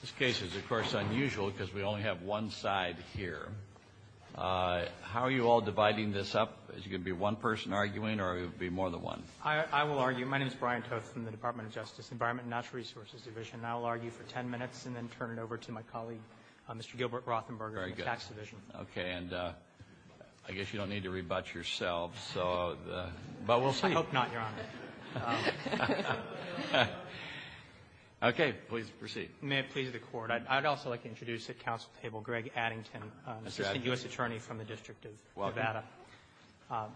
This case is, of course, unusual because we only have one side here. How are you all dividing this up? Is it going to be one person arguing, or will it be more than one? I will argue. My name is Brian Toth from the Department of Justice, Environment and Natural Resources Division, and I will argue for ten minutes and then turn it over to my colleague, Mr. Gilbert Rothenberger from the Tax Division. Okay, and I guess you don't need to rebut yourselves. I hope not, Your Honor. Okay. Please proceed. May it please the Court. I'd also like to introduce at council table Greg Addington, Assistant U.S. Attorney from the District of Nevada. Welcome.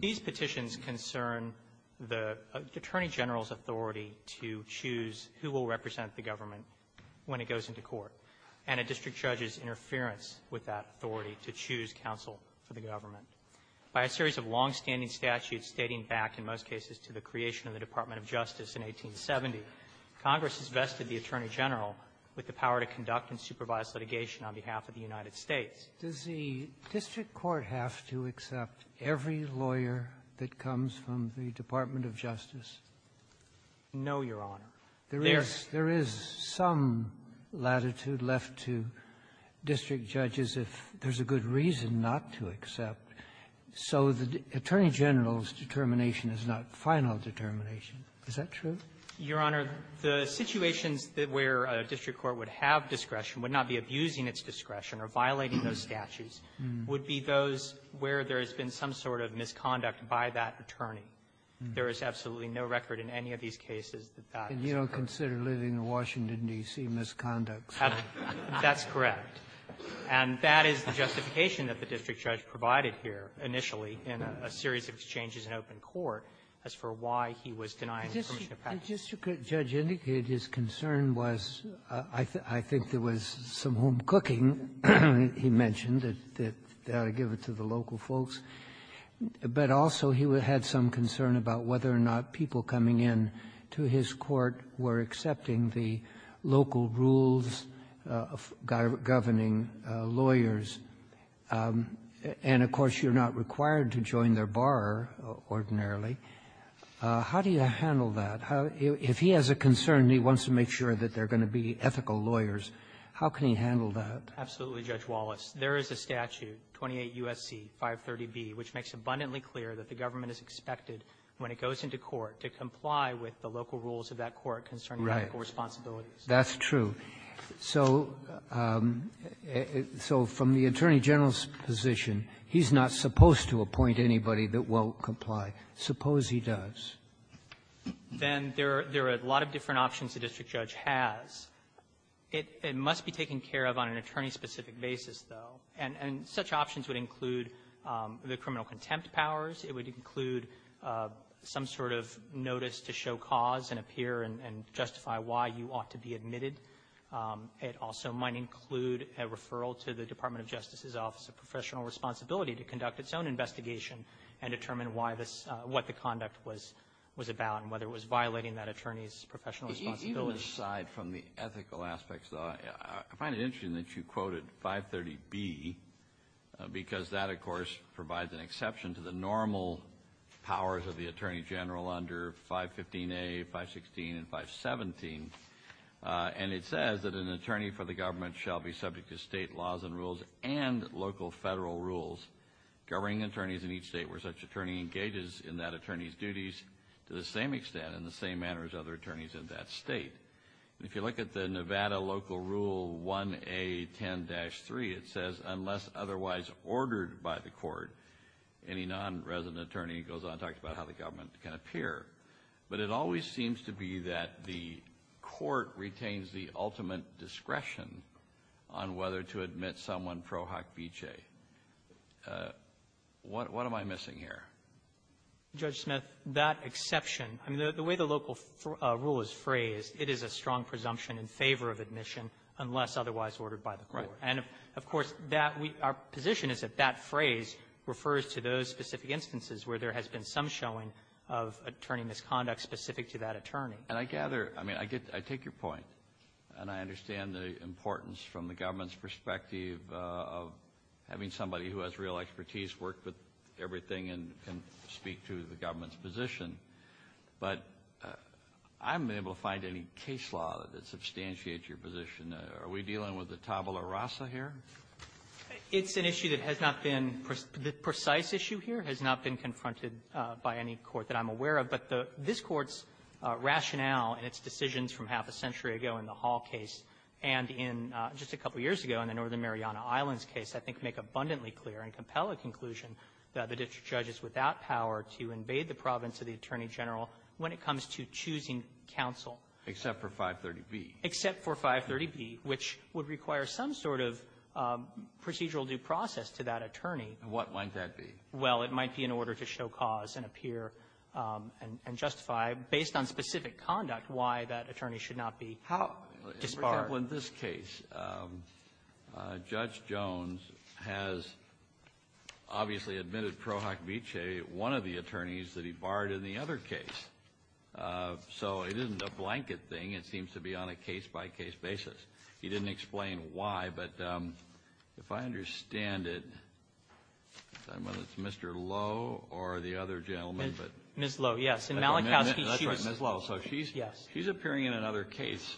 These petitions concern the Attorney General's authority to choose who will represent the government when it goes into court, and a district judge's interference with that authority to choose counsel for the government. By a series of longstanding statutes stating back, in most cases, to the creation of the Department of Justice in 1870, Congress has vested the Attorney General with the power to conduct and supervise litigation on behalf of the United States. Does the district court have to accept every lawyer that comes from the Department of Justice? No, Your Honor. There is some latitude left to district judges, if there's a good reason not to accept it. So the Attorney General's determination is not final determination. Is that true? Your Honor, the situations where a district court would have discretion, would not be abusing its discretion or violating those statutes, would be those where there has been some sort of misconduct by that attorney. There is absolutely no record in any of these cases that that is the case. And you don't consider living in Washington, D.C., misconducts? That's correct. And that is the justification that the district judge provided here, initially, in a series of exchanges in open court, as for why he was denying the permission of passage. Ginsburg's concern was, I think there was some home cooking, he mentioned, that they ought to give it to the local folks. But also he had some concern about whether or not people coming in to his court were accepting the local rules governing lawyers. And, of course, you're not required to join their bar ordinarily. How do you handle that? If he has a concern and he wants to make sure that there are going to be ethical lawyers, how can he handle that? Absolutely, Judge Wallace. There is a statute, 28 U.S.C. 530B, which makes abundantly clear that the government is expected, when it goes into court, to comply with the local rules of that court concerning ethical responsibilities. Right. That's true. So from the attorney general's position, he's not supposed to appoint anybody that won't comply. Suppose he does. Then there are a lot of different options the district judge has. It must be taken care of on an attorney-specific basis, though. And such options would include the criminal contempt powers. It would include some sort of notice to show cause and appear and justify why you ought to be admitted. It also might include a referral to the Department of Justice's Office of Professional Responsibility to conduct its own investigation and determine what the conduct was about and whether it was violating that attorney's professional responsibility. Even aside from the ethical aspects, though, I find it interesting that you quoted 530B because that, of course, provides an exception to the normal powers of the attorney general under 515A, 516, and 517. And it says that an attorney for the government shall be subject to state laws and rules and local federal rules governing attorneys in each state where such an attorney engages in that attorney's duties to the same extent and the same manner as other attorneys in that state. If you look at the Nevada local rule 1A10-3, it says, unless otherwise ordered by the court, any non-resident attorney goes on to talk about how the government can appear. But it always seems to be that the court retains the ultimate discretion on whether to admit someone pro hoc vicege. What am I missing here? Judge Smith, that exception, I mean, the way the local rule is phrased, it is a strong presumption in favor of admission unless otherwise ordered by the court. And, of course, that we – our position is that that phrase refers to those specific instances where there has been some showing of attorney misconduct specific to that attorney. And I gather – I mean, I get – I take your point, and I understand the importance from the government's perspective of having somebody who has real expertise, worked with everything, and can speak to the government's position. But I haven't been able to find any case law that substantiates your position. Are we dealing with the tabula rasa here? It's an issue that has not been – the precise issue here has not been confronted by any court that I'm aware of. But this Court's rationale in its decisions from half a century ago in the Hall case and in – just a couple of years ago in the Northern Mariana Islands case, I think, make abundantly clear and compel a conclusion that a judge is without power to invade the province of the Attorney General when it comes to choosing counsel. Except for 530B. Except for 530B, which would require some sort of procedural due process to that attorney. And what might that be? Well, it might be in order to show cause and appear and justify, based on specific conduct, why that attorney should not be disbarred. How – for example, in this case, Judge Jones has obviously admitted Pro Hoc Vitae, one of the attorneys, that he barred in the other case. So it isn't a blanket thing. It seems to be on a case-by-case basis. He didn't explain why, but if I understand it – I don't know if it's Mr. Lowe or the other gentleman, but – Ms. Lowe, yes. In Malachowski, she was – Yes. She's appearing in another case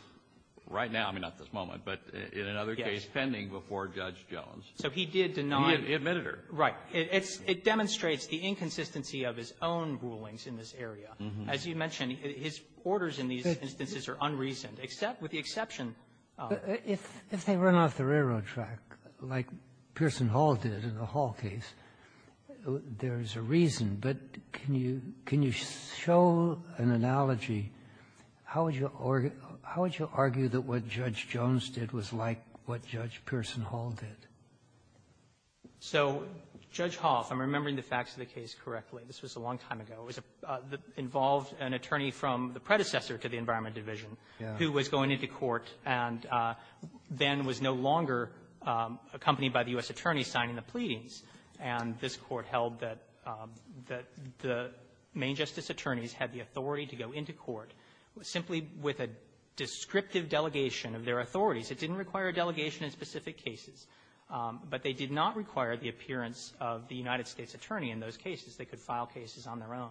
right now. I mean, not at this moment, but in another case pending before Judge Jones. So he did deny – He admitted her. Right. It's – it demonstrates the inconsistency of his own rulings in this area. As you mentioned, his orders in these instances are unreasoned, except with the exception of – But if they run off the railroad track, like Pearson Hall did in the Hall case, there's a reason. But can you – can you show an analogy? How would you argue that what Judge Jones did was like what Judge Pearson Hall did? So Judge Hoff – I'm remembering the facts of the case correctly. This was a long time ago. It was a – involved an attorney from the predecessor to the Environment Division who was going into court and then was no longer accompanied by the U.S. attorney signing the pleadings. And this Court held that the main justice attorneys had the authority to go into court simply with a descriptive delegation of their authorities. It didn't require a delegation in specific cases. But they did not require the appearance of the United States attorney in those cases. They could file cases on their own.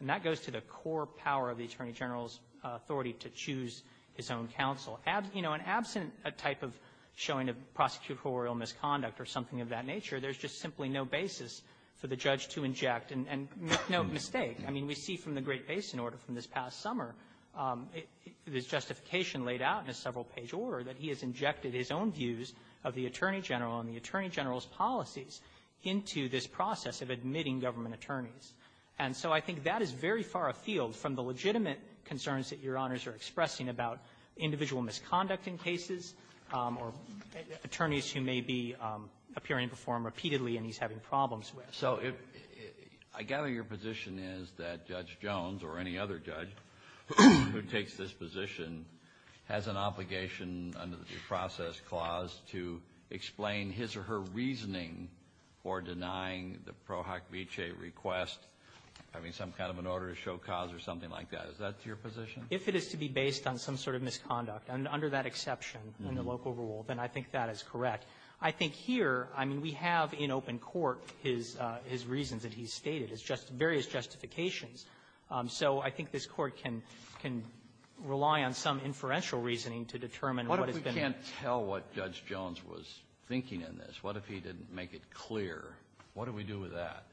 And that goes to the core power of the attorney general's authority to choose his own counsel. You know, and absent a type of showing of prosecutorial misconduct or something of that nature, there's just simply no basis for the judge to inject. And make no mistake. I mean, we see from the Great Basin Order from this past summer, the justification laid out in a several-page order that he has injected his own views of the attorney general and the attorney general's policies into this process of admitting government attorneys. And so I think that is very far afield from the legitimate concerns that Your Honors are expressing about individual misconduct in cases or attorneys who may be appearing before him repeatedly and he's having problems with. Kennedy. So I gather your position is that Judge Jones, or any other judge who takes this position, has an obligation under the process clause to explain his or her reasoning for denying the Pro Hoc Vitae request, having some kind of an order to show cause or something like that. Is that your position? If it is to be based on some sort of misconduct, under that exception in the local rule, then I think that is correct. I think here, I mean, we have in open court his reasons that he's stated, his various justifications. So I think this Court can rely on some inferential reasoning to determine what has been the reason. But we can't tell what Judge Jones was thinking in this. What if he didn't make it clear? What do we do with that?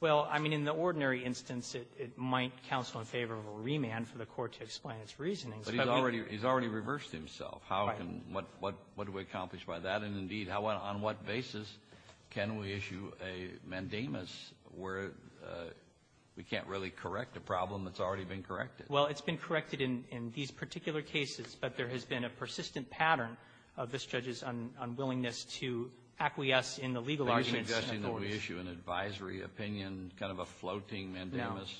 Well, I mean, in the ordinary instance, it might counsel in favor of a remand for the Court to explain its reasoning. But he's already reversed himself. Right. How can we do that? What do we accomplish by that? And, indeed, on what basis can we issue a mandamus where we can't really correct a problem that's already been corrected? Well, it's been corrected in these particular cases, but there has been a persistent pattern of this judge's unwillingness to acquiesce in the legal arguments. Are you suggesting that we issue an advisory opinion, kind of a floating mandamus?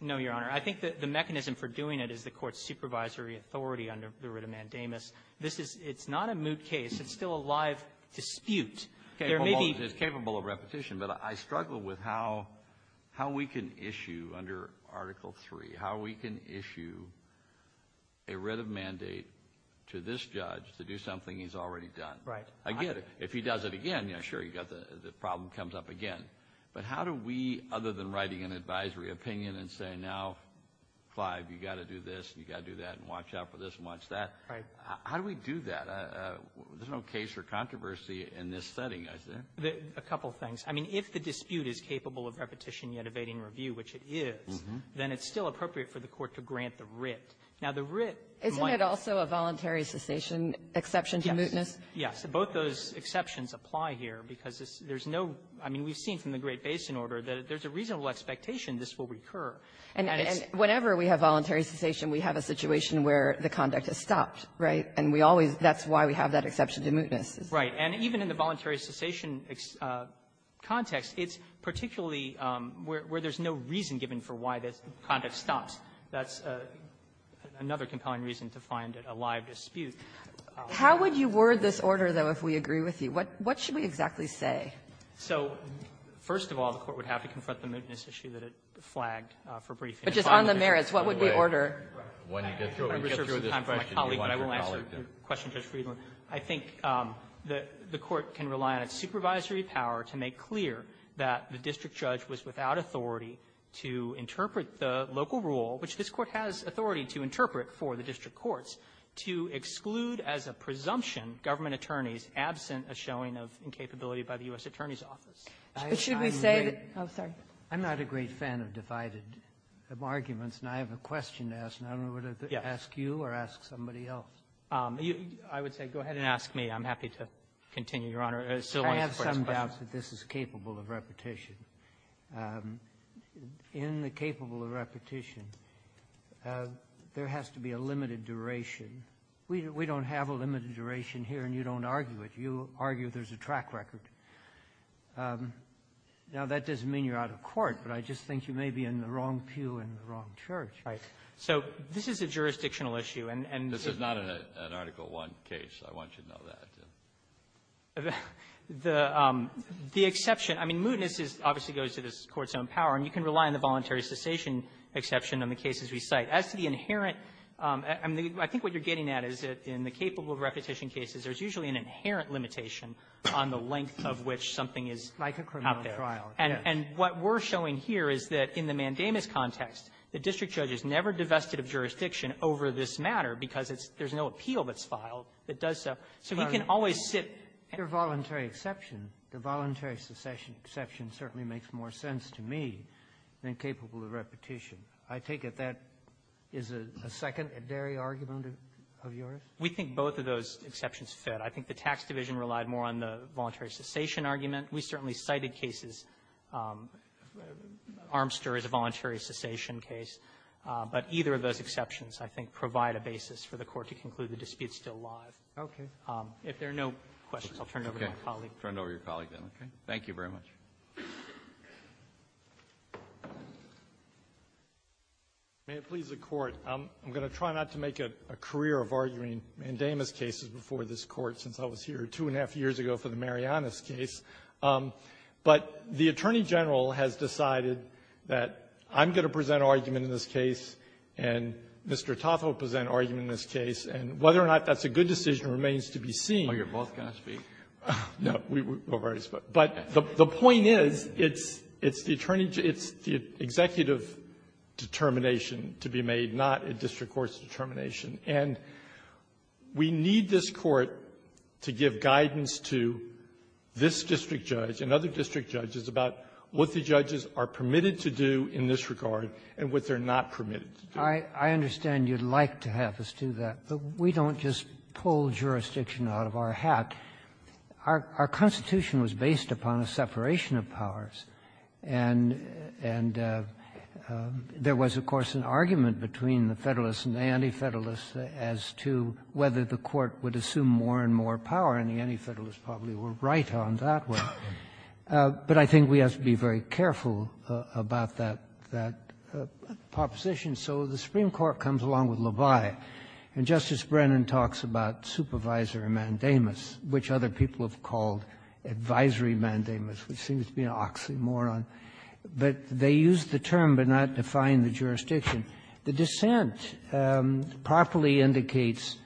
No, Your Honor. I think that the mechanism for doing it is the Court's supervisory authority under the writ of mandamus. This is not a moot case. It's still a live dispute. There may be ---- It's capable of repetition. But I struggle with how we can issue under Article III, how we can issue a writ of mandate to this judge to do something he's already done. Right. I get it. If he does it again, you know, sure, you've got the problem comes up again. But how do we, other than writing an advisory opinion and saying now, Clive, you've got to do this, you've got to do that, and watch out for this and watch that, how do we do that? There's no case or controversy in this setting, is there? A couple of things. I mean, if the dispute is capable of repetition yet evading review, which it is, then it's still appropriate for the Court to grant the writ. Now, the writ might ---- Isn't it also a voluntary cessation exception to mootness? Yes. Both those exceptions apply here, because there's no ---- I mean, we've seen from the Great Basin Order that if there's a reasonable expectation, this will recur. And it's ---- And whenever we have voluntary cessation, we have a situation where the conduct has stopped, right? And we always ---- that's why we have that exception to mootness. Right. And even in the voluntary cessation context, it's particularly where there's no reason given for why this conduct stops. That's another compelling reason to find a live dispute. How would you word this order, though, if we agree with you? What should we exactly say? So first of all, the Court would have to confront the mootness issue that it flagged for briefing. But just on the merits, what would we order? I'm going to reserve some time for my colleague, but I will answer your question, Judge Friedland. I think the Court can rely on its supervisory power to make clear that the district judge was without authority to interpret the local rule, which this Court has authority to interpret for the district courts, to exclude the district courts, to exclude as a presumption government attorneys absent a showing of incapability by the U.S. Attorney's Office. But should we say that ---- I'm not a great fan of divided arguments, and I have a question to ask, and I don't know whether to ask you or ask somebody else. I would say go ahead and ask me. I'm happy to continue, Your Honor. I have some doubt that this is capable of repetition. In the capable of repetition, there has to be a limited duration. We don't have a limited duration here, and you don't argue it. You argue there's a track record. Now, that doesn't mean you're out of court, but I just think you may be in the wrong pew in the wrong church. Right. So this is a jurisdictional issue, and the ---- This is not an Article I case. I want you to know that. The exception ---- I mean, mootness obviously goes to the Court's own power, and you can rely on the voluntary cessation exception on the cases we cite. As to the inherent ---- I mean, I think what you're getting at is that in the capable of repetition cases, there's usually an inherent limitation on the length of which something is out there. And what we're showing here is that in the mandamus context, the district judge has never divested of jurisdiction over this matter because it's ---- there's no appeal that's filed that does so. So he can always sit ---- Your voluntary exception, the voluntary cessation exception certainly makes more sense to me than capable of repetition. I take it that is a second and dairy argument of yours? We think both of those exceptions fit. I think the tax division relied more on the voluntary cessation argument. We certainly cited cases ---- Armster as a voluntary cessation case. But either of those exceptions, I think, provide a basis for the Court to conclude the dispute still live. Okay. If there are no questions, I'll turn it over to my colleague. Turn it over to your colleague, then. Okay. Thank you very much. May it please the Court. I'm going to try not to make a career of arguing mandamus cases before this Court since I was here two and a half years ago for the Marianas case. But the Attorney General has decided that I'm going to present argument in this case and Mr. Toth will present argument in this case. And whether or not that's a good decision remains to be seen. Oh, you're both going to speak? No. We've already spoken. But the point is, it's the attorney ---- it's the executive determination to be made, not a district court's determination. And we need this Court to give guidance to this district judge and other district judges about what the judges are permitted to do in this regard and what they're not permitted to do. I understand you'd like to have us do that. But we don't just pull jurisdiction out of our hat. Our Constitution was based upon a separation of powers. And there was, of course, an argument between the Federalists and the Anti-Federalists as to whether the Court would assume more and more power. And the Anti-Federalists probably were right on that one. But I think we have to be very careful about that proposition. So the Supreme Court comes along with Levi. And Justice Brennan talks about supervisory mandamus, which other people have called advisory mandamus, which seems to be an oxymoron. But they use the term, but not define the jurisdiction. The dissent properly indicates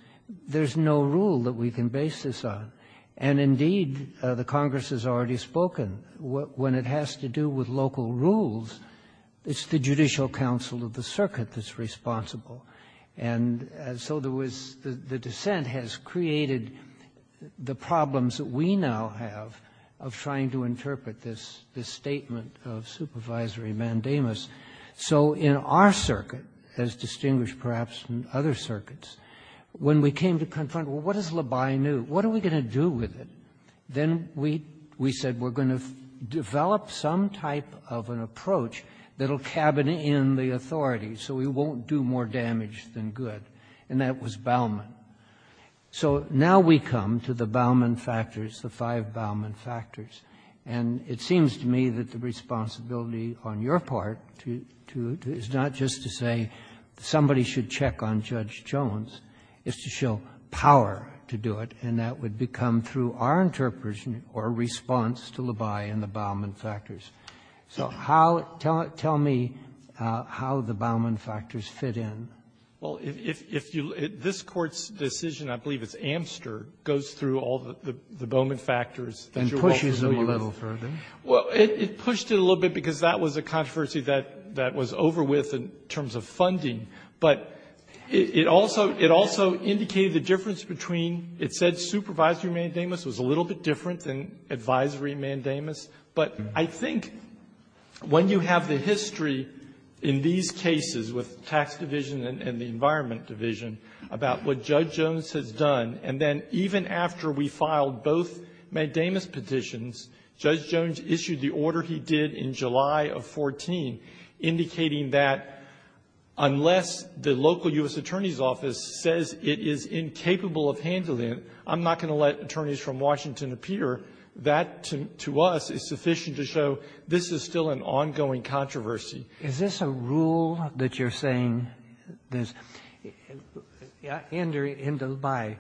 there's no rule that we can base this on. And, indeed, the Congress has already spoken. When it has to do with local rules, it's the Judicial Council of the circuit that's responsible. And so there was the dissent has created the problems that we now have of trying to interpret this statement of supervisory mandamus. So in our circuit, as distinguished, perhaps, from other circuits, when we came to confront, well, what does Levi knew? What are we going to do with it? Then we said we're going to develop some type of an approach that'll cabin in the district that's more damaged than good, and that was Bauman. So now we come to the Bauman factors, the five Bauman factors. And it seems to me that the responsibility on your part is not just to say somebody should check on Judge Jones. It's to show power to do it, and that would become, through our interpretation or response to Levi and the Bauman factors. So how — tell me how the Bauman factors fit in. Well, if you — this Court's decision, I believe it's Amster, goes through all the Bauman factors that you're offering. And pushes them a little further. Well, it pushed it a little bit, because that was a controversy that was over with in terms of funding. But it also indicated the difference between — it said supervisory mandamus was a little bit different than advisory mandamus. But I think when you have the history in these cases with the Tax Division and the Environment Division about what Judge Jones has done, and then even after we filed both mandamus petitions, Judge Jones issued the order he did in July of 14, indicating that unless the local U.S. Attorney's Office says it is incapable of handling it, I'm not going to let attorneys from Washington appear, that, to us, is sufficient to show this is still an ongoing controversy. Is this a rule that you're saying there's — in Dubai,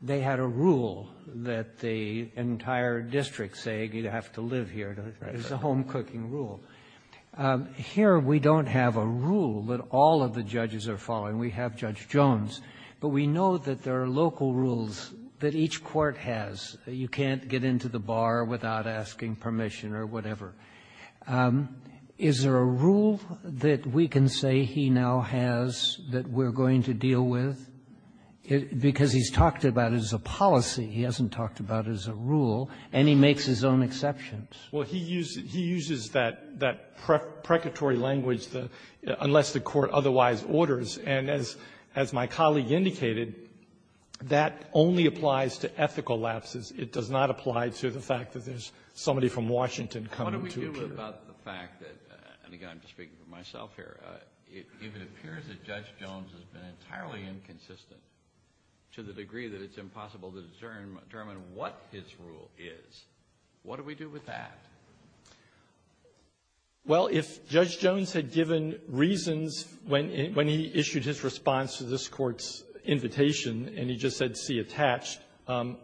they had a rule that the entire district said you'd have to live here. Right. It's a home-cooking rule. Here, we don't have a rule that all of the judges are following. We have Judge Jones. But we know that there are local rules that each court has. You can't get into the bar without asking permission or whatever. Is there a rule that we can say he now has that we're going to deal with? Because he's talked about it as a policy. He hasn't talked about it as a rule. And he makes his own exceptions. Well, he uses that — that precatory language, the — unless the court otherwise orders. And as — as my colleague indicated, that only applies to ethical lapses. It does not apply to the fact that there's somebody from Washington coming to appear. What do we do about the fact that — and again, I'm just speaking for myself here — if it appears that Judge Jones has been entirely inconsistent to the degree that it's impossible to determine what his rule is, what do we do with that? Well, if Judge Jones had given reasons when — when he issued his response to this Court's invitation, and he just said, see attached,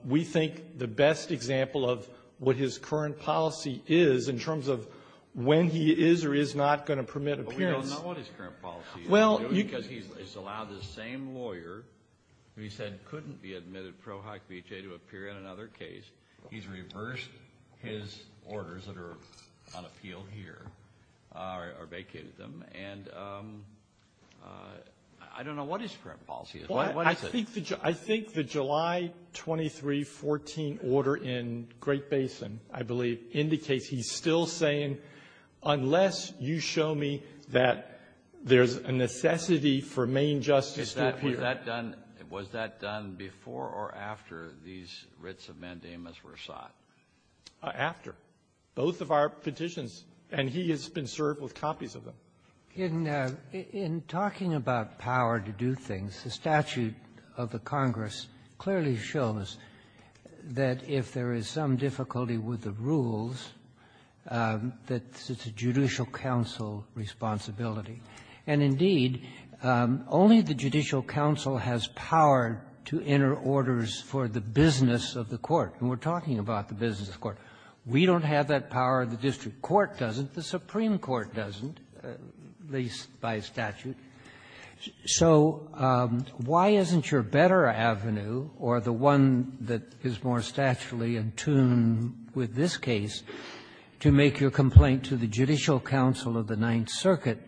we think the best example of what his current policy is in terms of when he is or is not going to permit appearance — But we don't know what his current policy is. Well, you — Because he's allowed the same lawyer who he said couldn't be admitted, ProHoc BHA, to appear in another case. He's reversed his orders that are on appeal here, or vacated them. And I don't know what his current policy is. What is it? I think the July 23, 14 order in Great Basin, I believe, indicates he's still saying, unless you show me that there's a necessity for Maine justice to appear — Was that done — was that done before or after these writs of mandamus were sought? After. Both of our petitions. And he has been served with copies of them. In — in talking about power to do things, the statute of the Congress clearly shows that if there is some difficulty with the rules, that it's a judicial counsel responsibility. And, indeed, only the judicial counsel has power to enter orders for the business of the court. And we're talking about the business of the court. We don't have that power. The district court doesn't. The Supreme Court doesn't, at least by statute. So why isn't your better avenue, or the one that is more statutorily in tune with this case, to make your complaint to the judicial counsel of the Ninth Circuit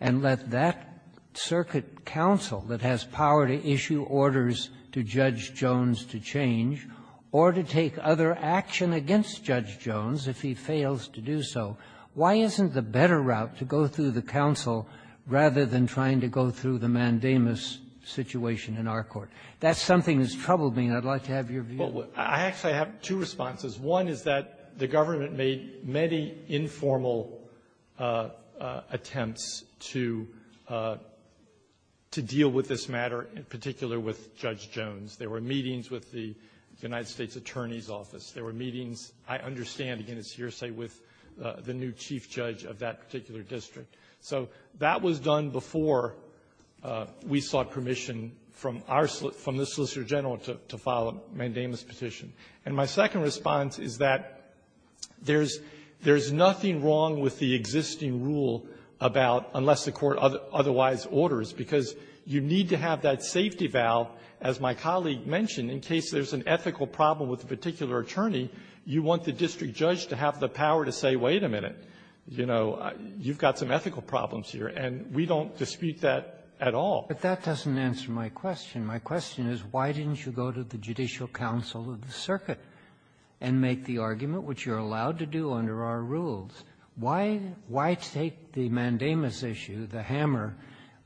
and let that circuit counsel that has power to issue orders to Judge Jones to change or to take other action against Judge Jones if he fails to do so, why isn't the better route to go through the counsel rather than trying to go through the mandamus situation in our court? That's something that's troubled me, and I'd like to have your view. I actually have two responses. One is that the government made many informal attempts to deal with this matter, in particular with Judge Jones. There were meetings with the United States Attorney's Office. There were meetings, I understand, again, it's hearsay, with the new chief judge of that particular district. So that was done before we sought permission from our slip, from the Solicitor General, to file a mandamus petition. And my second response is that there's nothing wrong with the existing rule about unless the Court otherwise orders, because you need to have that safety valve, as my colleague mentioned, in case there's an ethical problem with a particular attorney. You want the district judge to have the power to say, wait a minute, you know, you've got some ethical problems here, and we don't dispute that at all. But that doesn't answer my question. My question is, why didn't you go to the Judicial Council of the Circuit and make the argument, which you're allowed to do under our rules? Why take the mandamus issue, the hammer,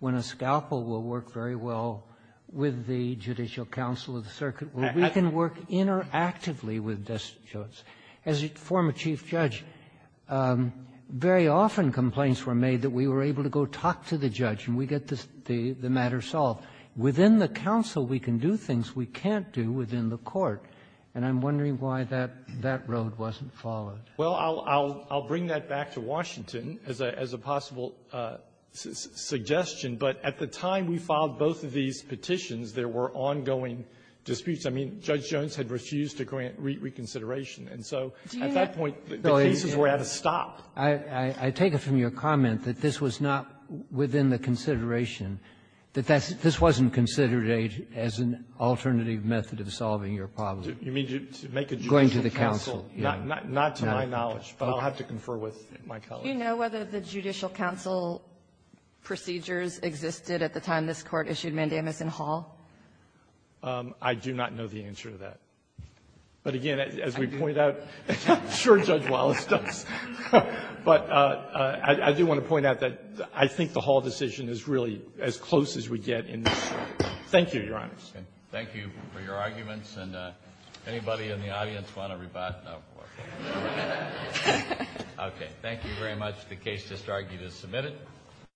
when a scalpel will work very well with the Judicial Council of the Circuit, where we can work interactively with Judge Jones? As a former chief judge, very often complaints were made that we were able to go talk to the judge, we get the matter solved. Within the council, we can do things we can't do within the court. And I'm wondering why that road wasn't followed. Well, I'll bring that back to Washington as a possible suggestion. But at the time we filed both of these petitions, there were ongoing disputes. I mean, Judge Jones had refused to grant reconsideration. And so at that point, the cases were at a stop. I take it from your comment that this was not within the consideration, that this wasn't considered as an alternative method of solving your problem. You mean to make a judicial counsel? Going to the council, yes. Not to my knowledge, but I'll have to confer with my colleagues. Do you know whether the judicial council procedures existed at the time this Court issued mandamus in Hall? I do not know the answer to that. But again, as we point out, I'm sure Judge Wallace does. But I do want to point out that I think the Hall decision is really as close as we get in this case. Thank you, Your Honors. Thank you for your arguments. And anybody in the audience want to rebut? No? Okay. Thank you very much. The case just argued is submitted.